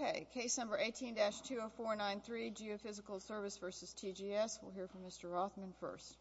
Okay. Case number 18-20493, Geophysical Service v. TGS. We'll hear from Mr. Rothman first.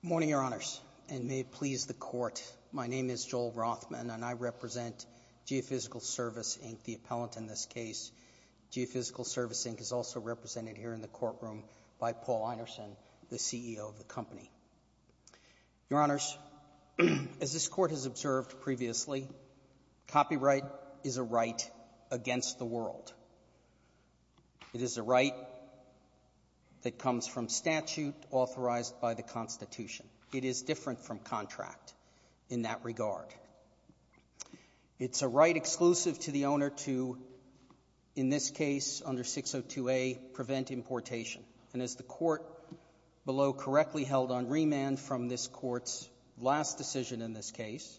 Morning, Your Honors, and may it please the Court, my name is Joel Rothman, and I represent Geophysical Service, Inc., the appellant in this case. Geophysical Service, Inc. is also represented here in the courtroom by Paul Einerson, the CEO of the company. Your Honors, as this Court has observed previously, copyright is a right against the world. It is a right that comes from statute authorized by the Constitution. It is different from contract in that regard. It's a right exclusive to the owner to, in this case, under 602A, prevent importation. And as the Court below correctly held on remand from this Court's last decision in this case,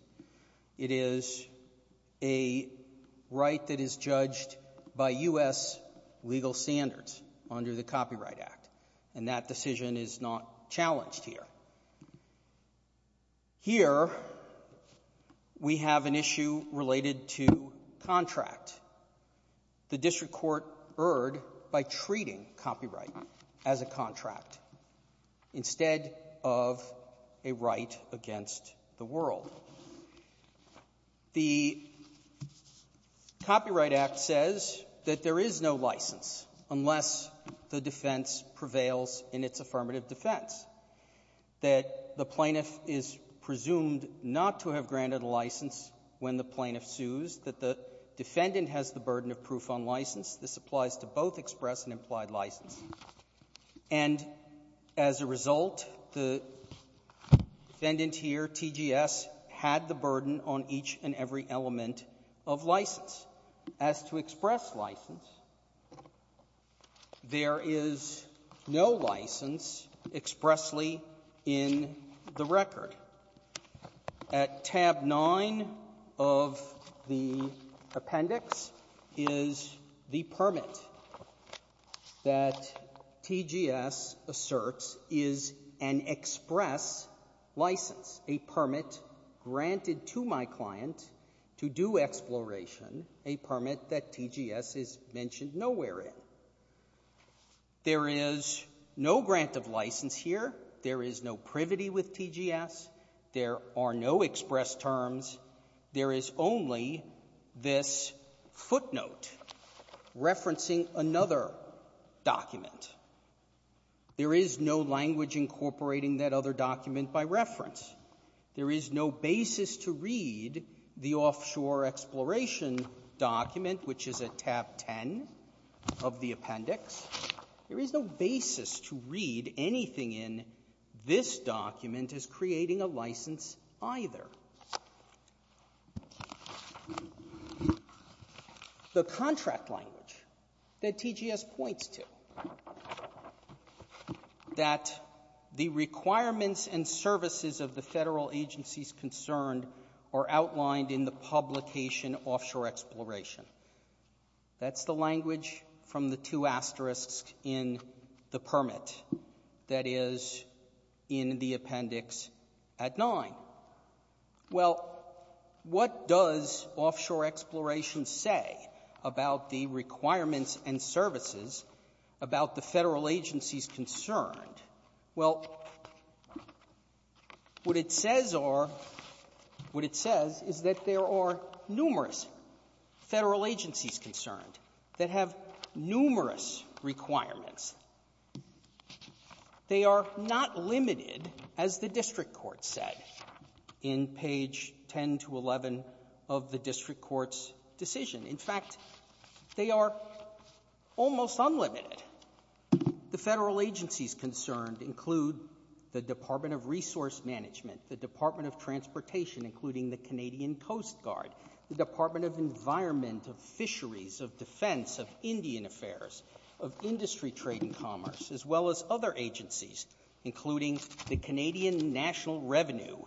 it is a right that is judged by U.S. legal standards under the Copyright Act. And that decision is not challenged here. Here, we have an issue related to contract. The district court erred by treating copyright as a contract instead of a right against the world. The Copyright Act says that there is no license unless the defense prevails in its affirmative defense, that the plaintiff is presumed not to have granted a license when the plaintiff sues, that the defendant has the burden of proof on license. This applies to both express and implied license. And as a result, the defendant here, TGS, had the burden on each and every element of license. As to express license, there is no license expressly in the record. At tab 9 of the appendix is the permit that TGS asserts is an express license, a permit granted to my client to do exploration, a permit that TGS is mentioned nowhere in. There is no grant of license here. There is no privity with TGS. There are no express terms. There is only this footnote referencing another document. There is no language incorporating that other document by reference. There is no basis to read the offshore exploration document, which is at tab 10 of the appendix. There is no basis to read anything in this document as creating a license either. The contract language that TGS points to, that the requirements and services of the Federal agencies concerned are outlined in the publication offshore exploration, that's the language from the two asterisks in the permit that is in the appendix at 9. Well, what does offshore exploration say about the requirements and services about the Federal agencies concerned? Well, what it says are, what it says is that there are numerous Federal agencies concerned that have numerous requirements. They are not limited, as the district court said in page 10 to 11 of the district court's decision. In fact, they are almost unlimited. The Federal agencies concerned include the Department of Resource Management, the Department of Transportation, including the Canadian Coast Guard, the Department of Environment, of Fisheries, of Defense, of Indian Affairs, of Industry, Trade, and Commerce, as well as other agencies, including the Canadian National Revenue,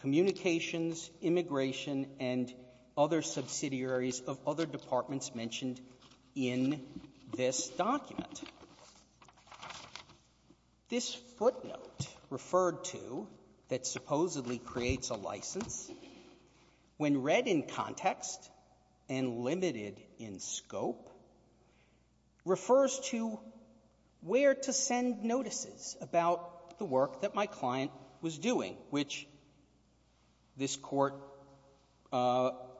Communications, Immigration, and other subsidiaries of other departments mentioned in this document. This footnote referred to that supposedly creates a license, when read in context and limited in scope, refers to where to send notices about the work that my client was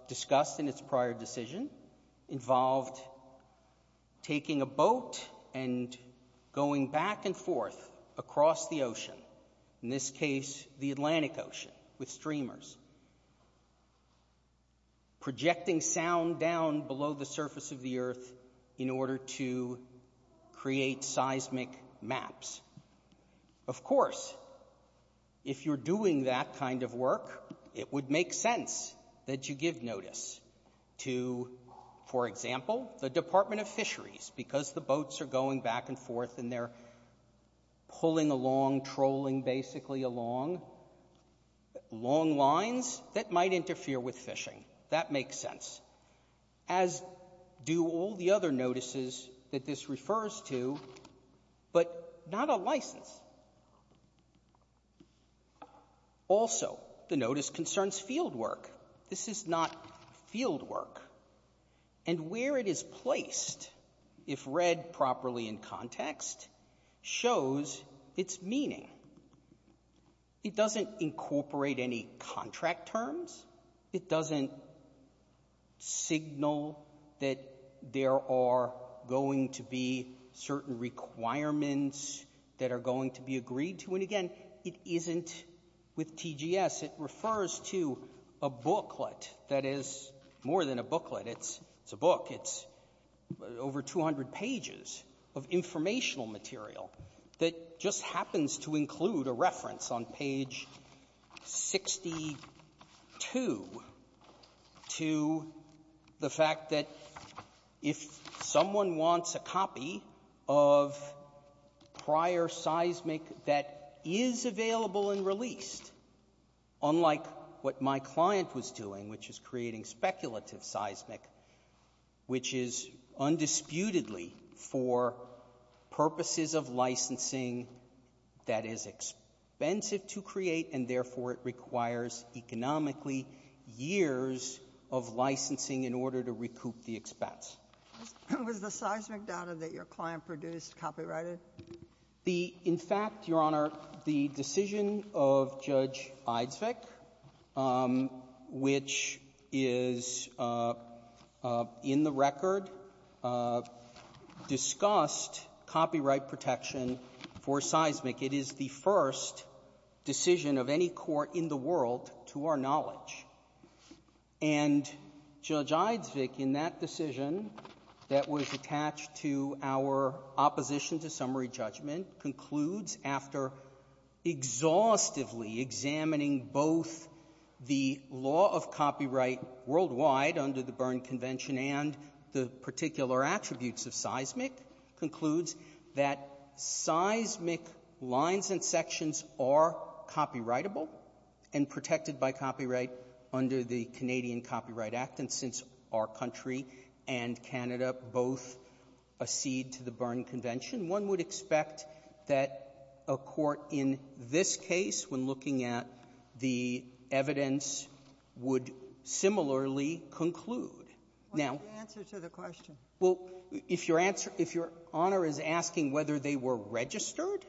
discussed in its prior decision involved taking a boat and going back and forth across the ocean, in this case the Atlantic Ocean with streamers, projecting sound down below the surface of the earth in order to create seismic maps. Of course, if you're doing that kind of work, it would make sense that you give notice to, for example, the Department of Fisheries, because the boats are going back and forth and they're pulling along, trolling basically along, long lines that might interfere with fishing. That makes sense. As do all the other notices that this refers to, but not a license. Also, the notice concerns field work. This is not field work. And where it is placed, if read properly in context, shows its meaning. It doesn't incorporate any contract terms. It doesn't signal that there are going to be certain requirements that are going to be agreed to. And again, it isn't with TGS. It refers to a booklet that is more than a booklet. It's a book. It's over 200 pages of informational material that just happens to include a reference on page 62 to the fact that if someone wants a copy of prior seismic that is available and released, unlike what my client was doing, which is creating speculative seismic, which is undisputedly for purposes of licensing that is expensive to create and therefore it requires economically years of licensing in order to recoup the expense. Was the seismic data that your client produced copyrighted? In fact, Your Honor, the decision of Judge Eidsvig, which is in the record, discussed copyright protection for seismic. It is the first decision of any court in the world, to our knowledge. And Judge Eidsvig, in that decision that was attached to our opposition to summary judgment, concludes after exhaustively examining both the law of copyright worldwide under the Berne Convention and the particular attributes of seismic, concludes that seismic lines and sections are copyrightable and protected by copyright under the Canadian Copyright Act, and since our country and Canada both accede to the Berne Convention, one would expect that a court in this case, when looking at the evidence, would similarly conclude. Now — What's the answer to the question? Well, if your answer — if Your Honor is asking whether they were registered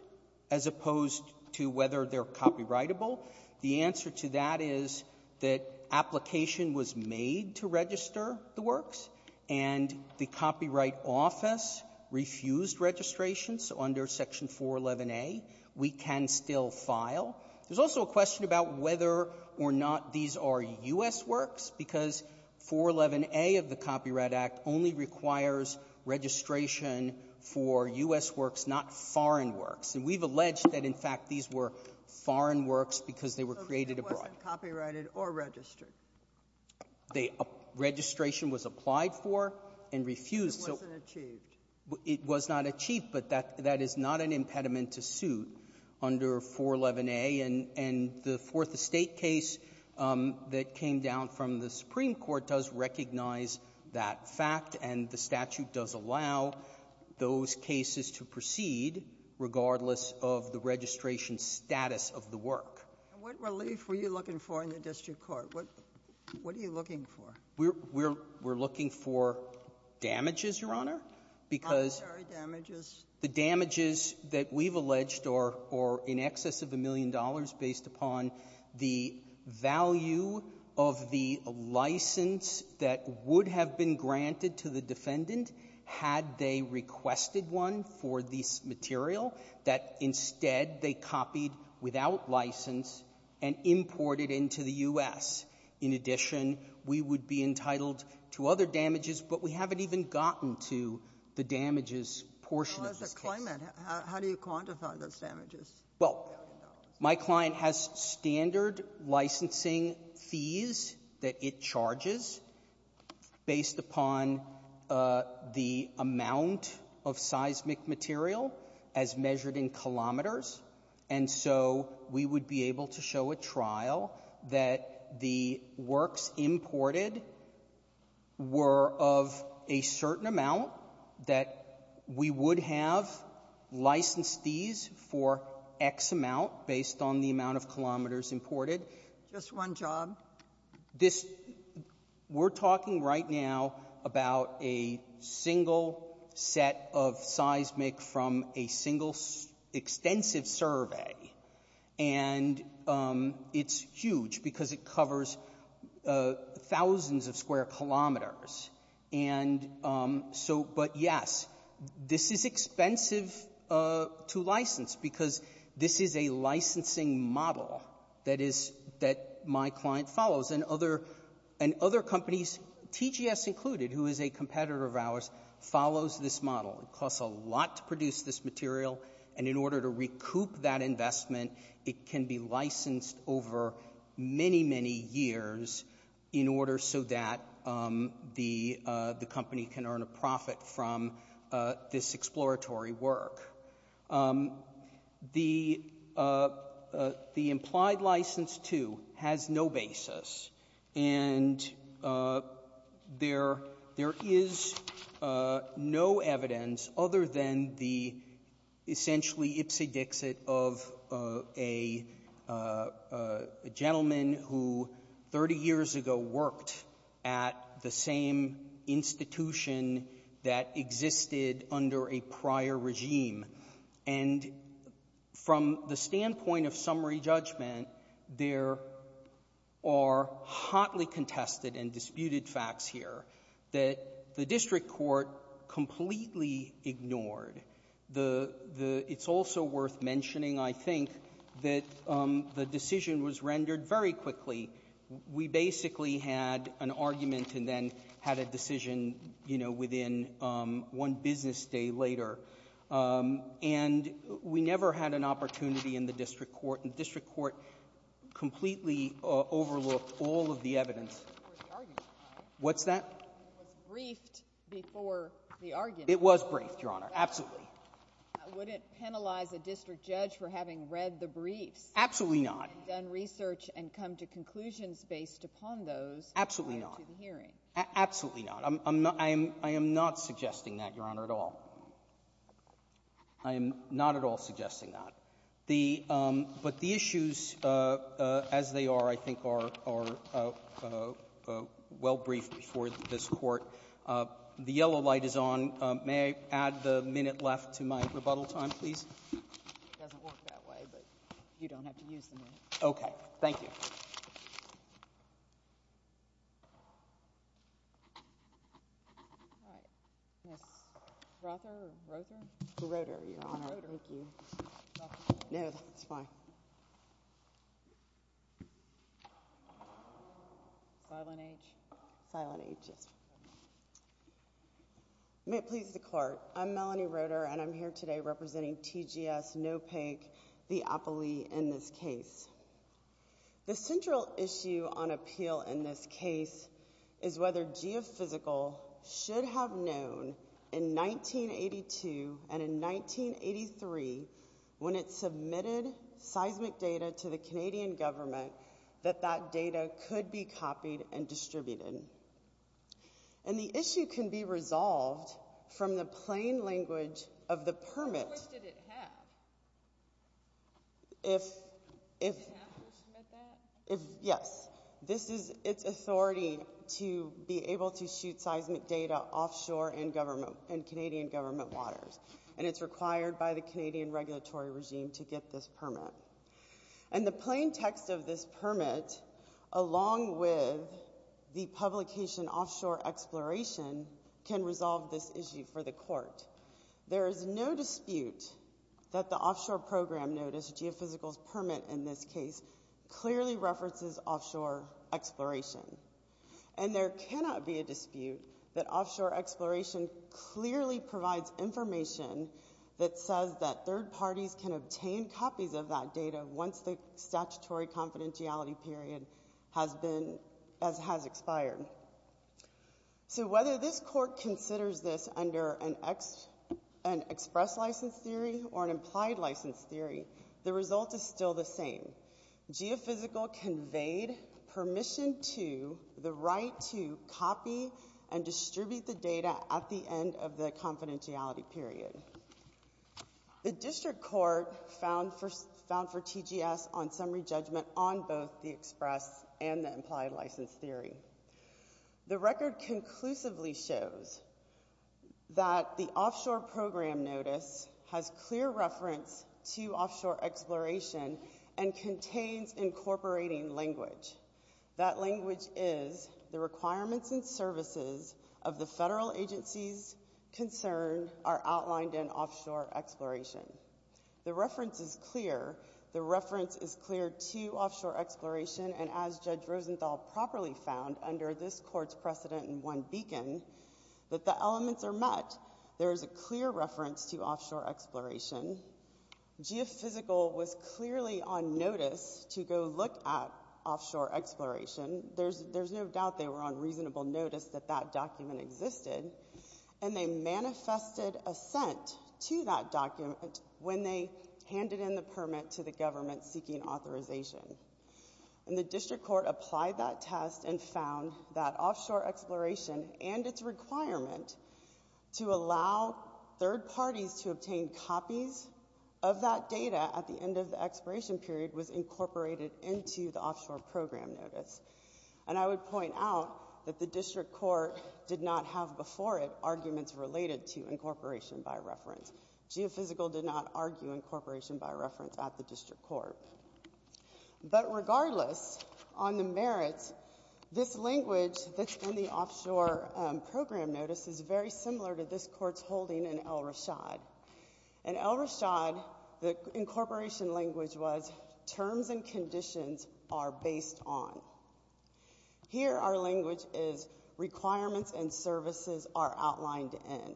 as opposed to whether they're copyrightable, the answer to that is that application was made to register the works, and the Copyright Office refused registration. So under Section 411a, we can still file. There's also a question about whether or not these are U.S. works, because 411a of course requires registration for U.S. works, not foreign works. And we've alleged that, in fact, these were foreign works because they were created abroad. So it wasn't copyrighted or registered? The registration was applied for and refused. It wasn't achieved. It was not achieved, but that is not an impediment to suit under 411a. And the Fourth Estate case that came down from the Supreme Court does recognize that fact, and the statute does allow those cases to proceed regardless of the registration status of the work. And what relief were you looking for in the district court? What are you looking for? We're looking for damages, Your Honor, because — How many damages? The damages that we've alleged are in excess of a million dollars based upon the value of the license that would have been granted to the defendant had they requested one for this material that instead they copied without license and imported into the U.S. In addition, we would be entitled to other damages, but we haven't even gotten to the damages portion of this case. How does it claim it? How do you quantify those damages? Well, my client has standard licensing fees that it charges based upon the amount of seismic material as measured in kilometers, and so we would be able to show a trial that the works imported were of a certain amount that we would have licensed these for X amount based on the amount of kilometers imported. Just one job? We're talking right now about a single set of seismic from a single extensive survey, and it's huge because it covers thousands of square kilometers. And so — but yes, this is expensive to license because this is a licensing model that is — that my client follows, and other companies, TGS included, who is a competitor of ours, follows this model. It costs a lot to produce this material, and in order to recoup that investment, it can be licensed over many, many years in order so that the company can earn a profit from this exploratory work. The implied license, too, has no basis, and there is no evidence other than the essentially dixie-dixit of a gentleman who 30 years ago worked at the same institution that existed under a prior regime, and from the standpoint of summary judgment, there are hotly contested and disputed facts here that the district court completely ignored. The — it's also worth mentioning, I think, that the decision was rendered very quickly. We basically had an argument and then had a decision, you know, within one business day later. And we never had an opportunity in the district court, and the district court completely overlooked all of the evidence. What's that? It was briefed before the argument. It was briefed, Your Honor. Absolutely. Would it penalize a district judge for having read the briefs? Absolutely not. And done research and come to conclusions based upon those prior to the hearing? Absolutely not. Absolutely not. I am not suggesting that, Your Honor, at all. I am not at all suggesting that. The — but the issues as they are, I think, are well briefed before this Court. The yellow light is on. May I add the minute left to my rebuttal time, please? It doesn't work that way, but you don't have to use the minute. Okay. Thank you. All right. Ms. Rother? Rother? Rother, Your Honor. Rother. Thank you. No, that's fine. Silent H? Silent H, yes. May it please the Court. I'm Melanie Rother, and I'm here today representing TGS, NOPEG, the appellee in this case. The central issue on appeal in this case is whether GEOPhysical should have known in 1982 and in 1983, when it submitted seismic data to the Canadian government, that that data could be copied and distributed. And the issue can be resolved from the plain language of the permit. Which did it have? If — Did it have permission to submit that? If — yes. This is its authority to be able to shoot seismic data offshore in government — in Canadian government waters. And it's required by the Canadian regulatory regime to get this permit. And the plain text of this permit, along with the publication offshore exploration, can resolve this issue for the Court. There is no dispute that the offshore program notice, GEOPhysical's permit in this case, clearly references offshore exploration. And there cannot be a dispute that offshore exploration clearly provides information that says that third parties can obtain copies of that data once the statutory confidentiality period has been — has expired. So whether this Court considers this under an express license theory or an implied license theory, the result is still the same. GEOPhysical conveyed permission to — the right to copy and distribute the data at the end of the confidentiality period. The district court found for — found for TGS on summary judgment on both the express and the implied license theory. The record conclusively shows that the offshore program notice has clear reference to offshore exploration and contains incorporating language. That language is, the requirements and services of the federal agency's concern are outlined in offshore exploration. The reference is clear. The reference is clear to offshore exploration. And as Judge Rosenthal properly found under this Court's precedent in one beacon, that the elements are met. There is a clear reference to offshore exploration. GEOPhysical was clearly on notice to go look at offshore exploration. There's — there's no doubt they were on reasonable notice that that document existed. And they manifested assent to that document when they handed in the permit to the government seeking authorization. And the district court applied that test and found that offshore exploration and its requirement to allow third parties to obtain copies of that data at the end of the exploration period was incorporated into the offshore program notice. And I would point out that the district court did not have before it arguments related to incorporation by reference. GEOPhysical did not argue incorporation by reference at the district court. But regardless, on the merits, this language that's in the offshore program notice is very similar to this Court's holding in El Rashad. In El Rashad, the incorporation language was terms and conditions are based on. Here our language is requirements and services are outlined in.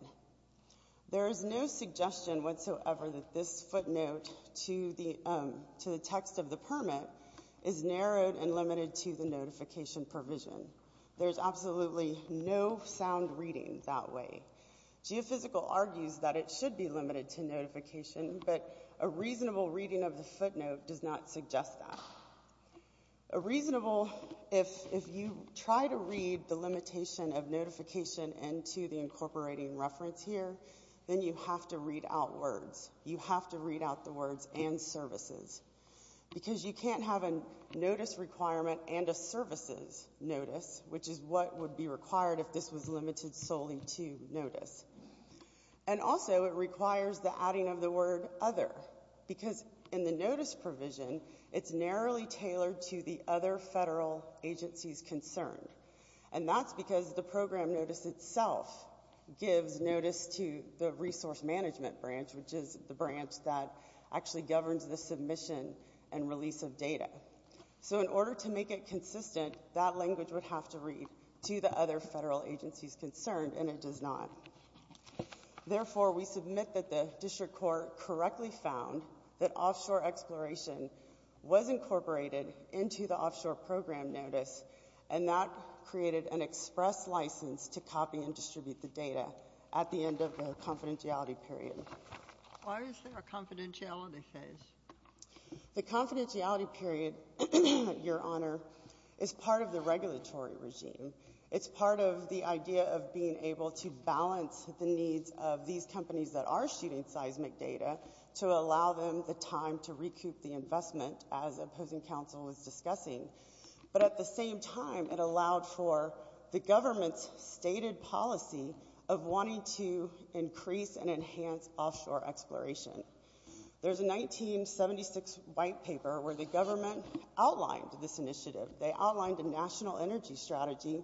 There is no suggestion whatsoever that this footnote to the text of the permit is narrowed and limited to the notification provision. There's absolutely no sound reading that way. GEOPhysical argues that it should be limited to notification, but a reasonable reading of the footnote does not suggest that. A reasonable, if you try to read the limitation of notification into the incorporating reference here, then you have to read out words. You have to read out the words and services. Because you can't have a notice requirement and a services notice, which is what would be required if this was limited solely to notice. And also, it requires the adding of the word other. Because in the notice provision, it's narrowly tailored to the other federal agencies concerned. And that's because the program notice itself gives notice to the resource management branch, which is the branch that actually governs the submission and release of data. So in order to make it consistent, that language would have to read to the other federal agencies concerned, and it does not. Therefore, we submit that the district court correctly found that offshore exploration was incorporated into the offshore program notice, and that created an express license to copy and distribute the data at the end of the confidentiality period. Why is there a confidentiality phase? The confidentiality period, Your Honor, is part of the regulatory regime. It's part of the idea of being able to balance the needs of these companies that are shooting seismic data to allow them the time to recoup the investment, as opposing counsel was discussing. But at the same time, it allowed for the government's stated policy of wanting to increase and enhance offshore exploration. There's a 1976 white paper where the government outlined this initiative. They outlined a national energy strategy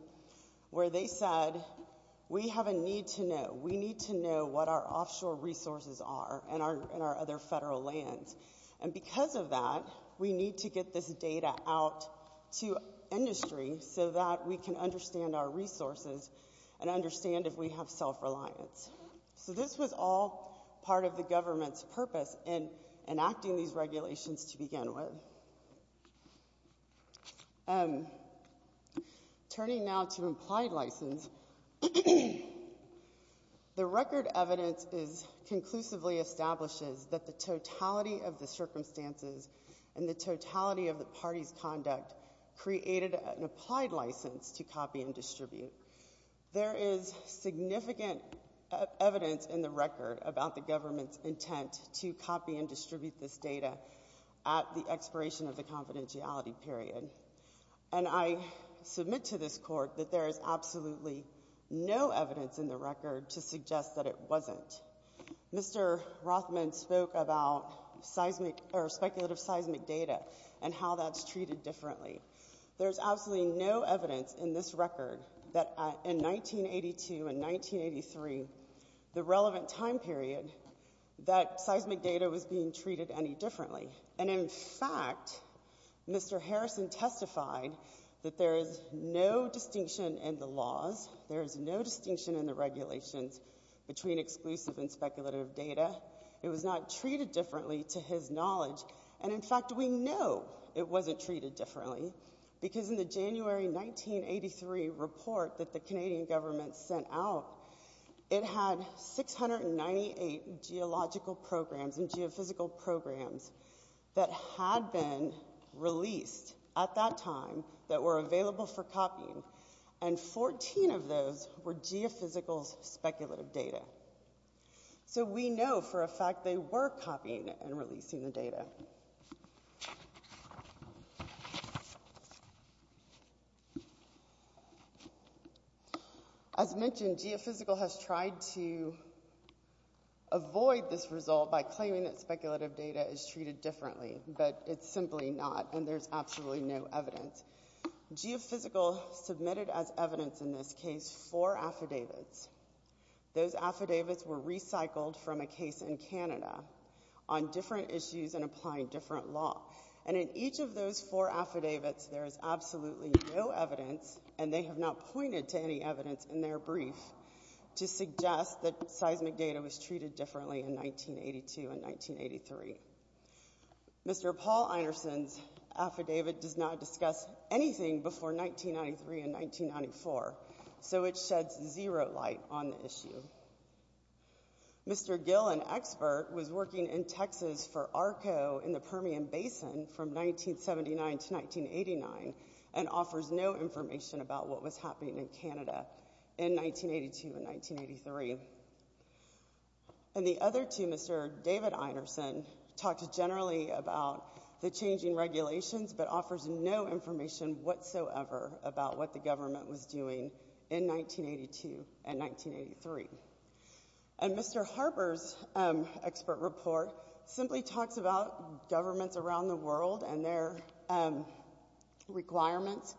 where they said we have a need to know. We need to know what our offshore resources are in our other federal lands. And because of that, we need to get this data out to industry so that we can understand our resources and understand if we have self-reliance. So this was all part of the government's purpose in enacting these regulations to begin with. Turning now to implied license, the record evidence conclusively establishes that the totality of the circumstances and the totality of the party's conduct created an applied license to copy and distribute. There is significant evidence in the record about the government's intent to copy and distribute this data at the expiration of the confidentiality period. And I submit to this court that there is absolutely no evidence in the record to suggest that it wasn't. Mr. Rothman spoke about speculative seismic data and how that's treated differently. There's absolutely no evidence in this record that in 1982 and 1983, the relevant time period, that seismic data was being treated any differently. And in fact, Mr. Harrison testified that there is no distinction in the laws. There is no distinction in the regulations between exclusive and speculative data. It was not treated differently to his knowledge. And in fact, we know it wasn't treated differently because in the January 1983 report that the Canadian government sent out, it had 698 geological programs and geophysical programs that had been released at that time that were available for copying. And 14 of those were geophysical speculative data. So we know for a fact they were copying and releasing the data. As mentioned, geophysical has tried to avoid this result by claiming that speculative data is treated differently, but it's simply not, and there's absolutely no evidence. Geophysical submitted as evidence in this case four affidavits. Those affidavits were recycled from a case in Canada on different issues and applying different law. And in each of those four affidavits, there is absolutely no evidence, and they have not pointed to any evidence in their brief to suggest that seismic data was treated differently in 1982 and 1983. Mr. Paul Einerson's affidavit does not discuss anything before 1993 and 1994, so it sheds zero light on the issue. Mr. Gill, an expert, was working in Texas for ARCO in the Permian Basin from 1979 to 1989 and offers no information about what was happening in Canada in 1982 and 1983. And the other two, Mr. David Einerson talked generally about the changing regulations but offers no information whatsoever about what the government was doing in 1982 and 1983. And Mr. Harper's expert report simply talks about governments around the world and their requirements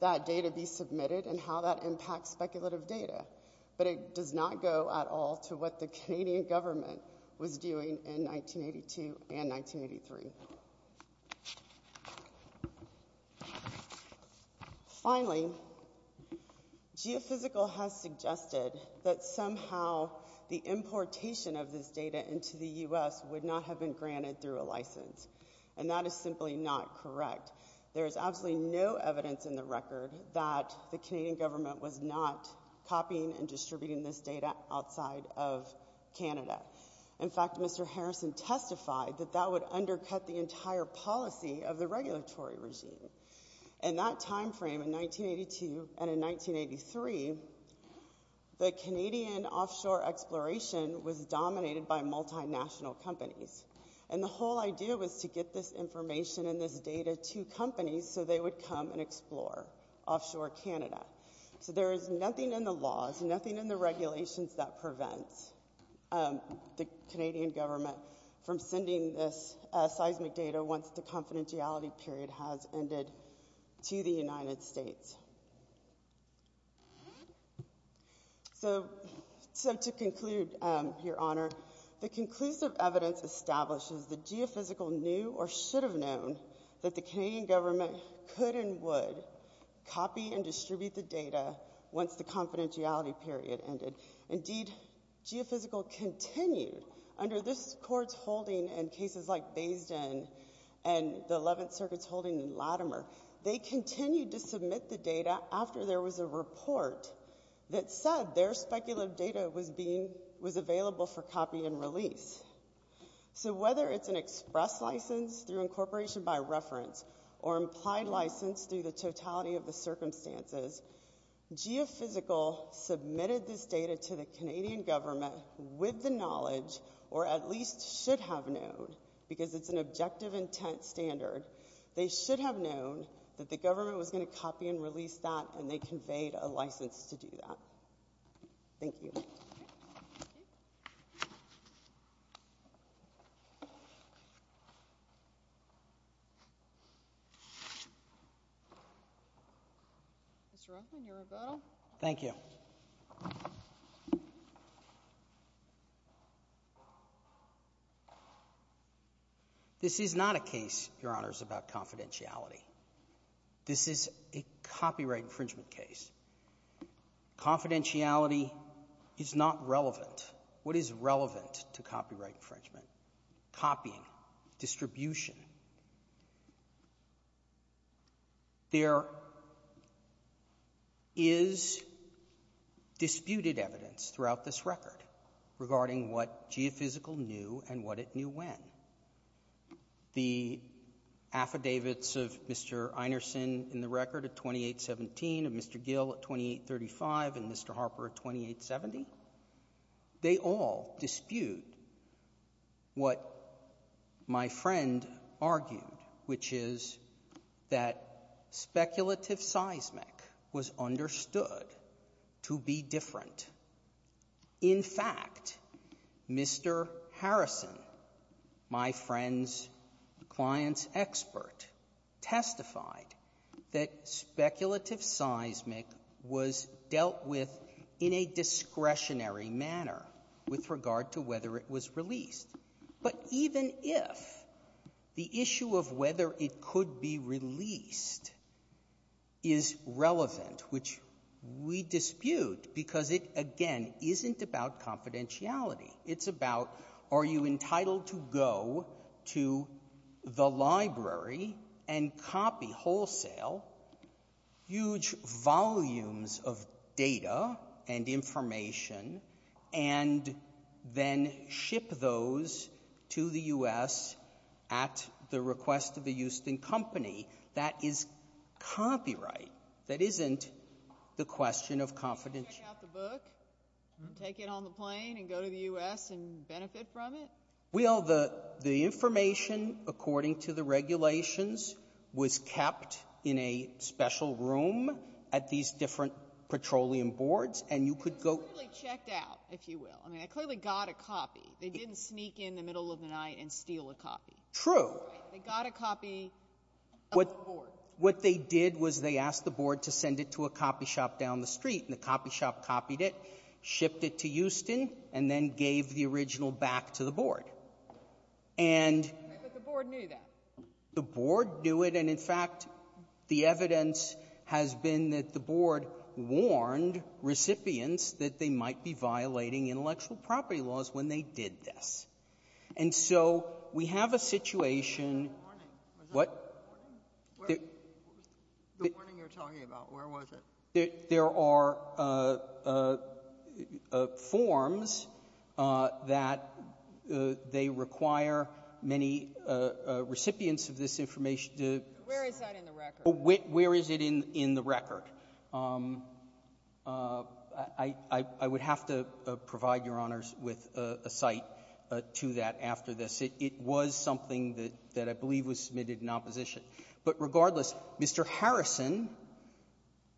that data be submitted and how that impacts speculative data, but it does not go at all to what the Canadian government was doing in 1982 and 1983. Finally, Geophysical has suggested that somehow the importation of this data into the U.S. would not have been granted through a license, and that is simply not correct. There is absolutely no evidence in the record that the Canadian government was not copying and distributing this data outside of Canada. In fact, Mr. Harrison testified that that would undercut the entire policy of the regulatory regime. In that time frame in 1982 and in 1983, the Canadian offshore exploration was dominated by multinational companies. And the whole idea was to get this information and this data to companies so they would come and explore offshore Canada. So there is nothing in the laws, nothing in the regulations that prevents the Canadian government from sending this seismic data once the confidentiality period has ended to the United States. So to conclude, Your Honor, the conclusive evidence establishes that Geophysical knew or should have known that the Canadian government could and would copy and distribute the data once the confidentiality period ended. Indeed, Geophysical continued under this court's holding in cases like Bayes' Den and the Eleventh Circuit's holding in Latimer. They continued to submit the data after there was a report that said their speculative data was available for copy and release. So whether it's an express license through incorporation by reference or implied license through the totality of the circumstances, Geophysical submitted this data to the Canadian government with the knowledge or at least should have known, because it's an objective intent standard, they should have known that the government was going to copy and release that and they conveyed a license to do that. Thank you. Mr. Ruffin, your rebuttal. Thank you. This is not a case, Your Honors, about confidentiality. This is a copyright infringement case. Confidentiality is not relevant. What is relevant to copyright infringement? Copying. Distribution. There is disputed evidence throughout this record regarding what Geophysical knew and what it knew when. The affidavits of Mr. Einerson in the record of 2817, of Mr. Gill at 2835, and Mr. Harper at 2870, they all dispute what my friend argued, which is that speculative seismic was understood to be different. In fact, Mr. Harrison, my friend's client's expert, testified that speculative seismic was dealt with in a discretionary manner with regard to whether it was released. But even if the issue of whether it could be released is relevant, which we dispute, because it, again, isn't about confidentiality. It's about, are you entitled to go to the library and copy wholesale huge volumes of data and information and then ship those to the U.S. at the request of a Houston company? That is copyright. That isn't the question of confidentiality. You can take out the book and take it on the plane and go to the U.S. and benefit from it? Well, the information, according to the regulations, was kept in a special room at these different petroleum boards, and you could go — They clearly checked out, if you will. I mean, they clearly got a copy. They didn't sneak in the middle of the night and steal a copy. True. They got a copy of the board. What they did was they asked the board to send it to a copy shop down the street, and the copy shop copied it, shipped it to Houston, and then gave the original back to the board. And — But the board knew that. The board knew it. And, in fact, the evidence has been that the board warned recipients that they might be violating intellectual property laws when they did this. And so we have a situation Was that a warning? What? The warning you're talking about, where was it? There are forms that they require many recipients of this information to — Where is that in the record? Where is it in the record? I would have to provide Your Honors with a cite to that after this. It was something that I believe was submitted in opposition. But regardless, Mr. Harrison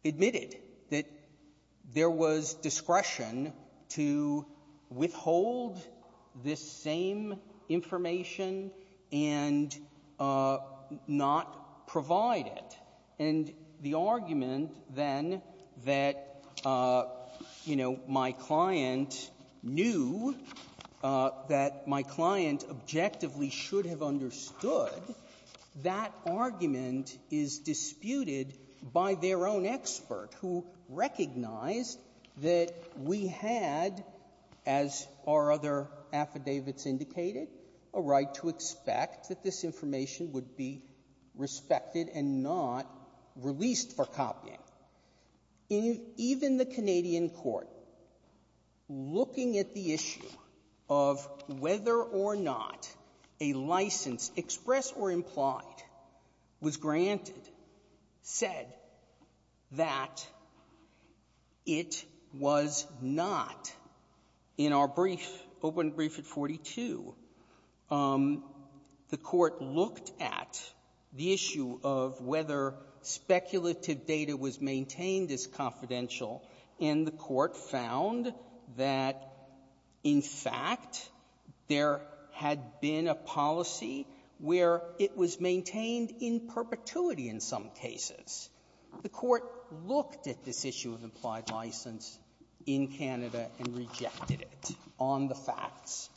admitted that there was discretion to withhold this same information and not provide it. And the argument then that, you know, my client knew, that my client objectively should have understood, that argument is disputed by their own expert, who recognized that we had, as our other affidavits indicated, a right to expect that this information would be respected and not released for copying. Even the Canadian court, looking at the issue of whether or not a license, express or implied, was granted, said that it was not. In our brief, open brief at 42, the Court looked at the issue of whether speculative data was maintained as confidential, and the Court found that, in fact, there had been a policy where it was maintained in perpetuity in some cases. The Court looked at this issue of implied license in Canada and rejected it on the facts.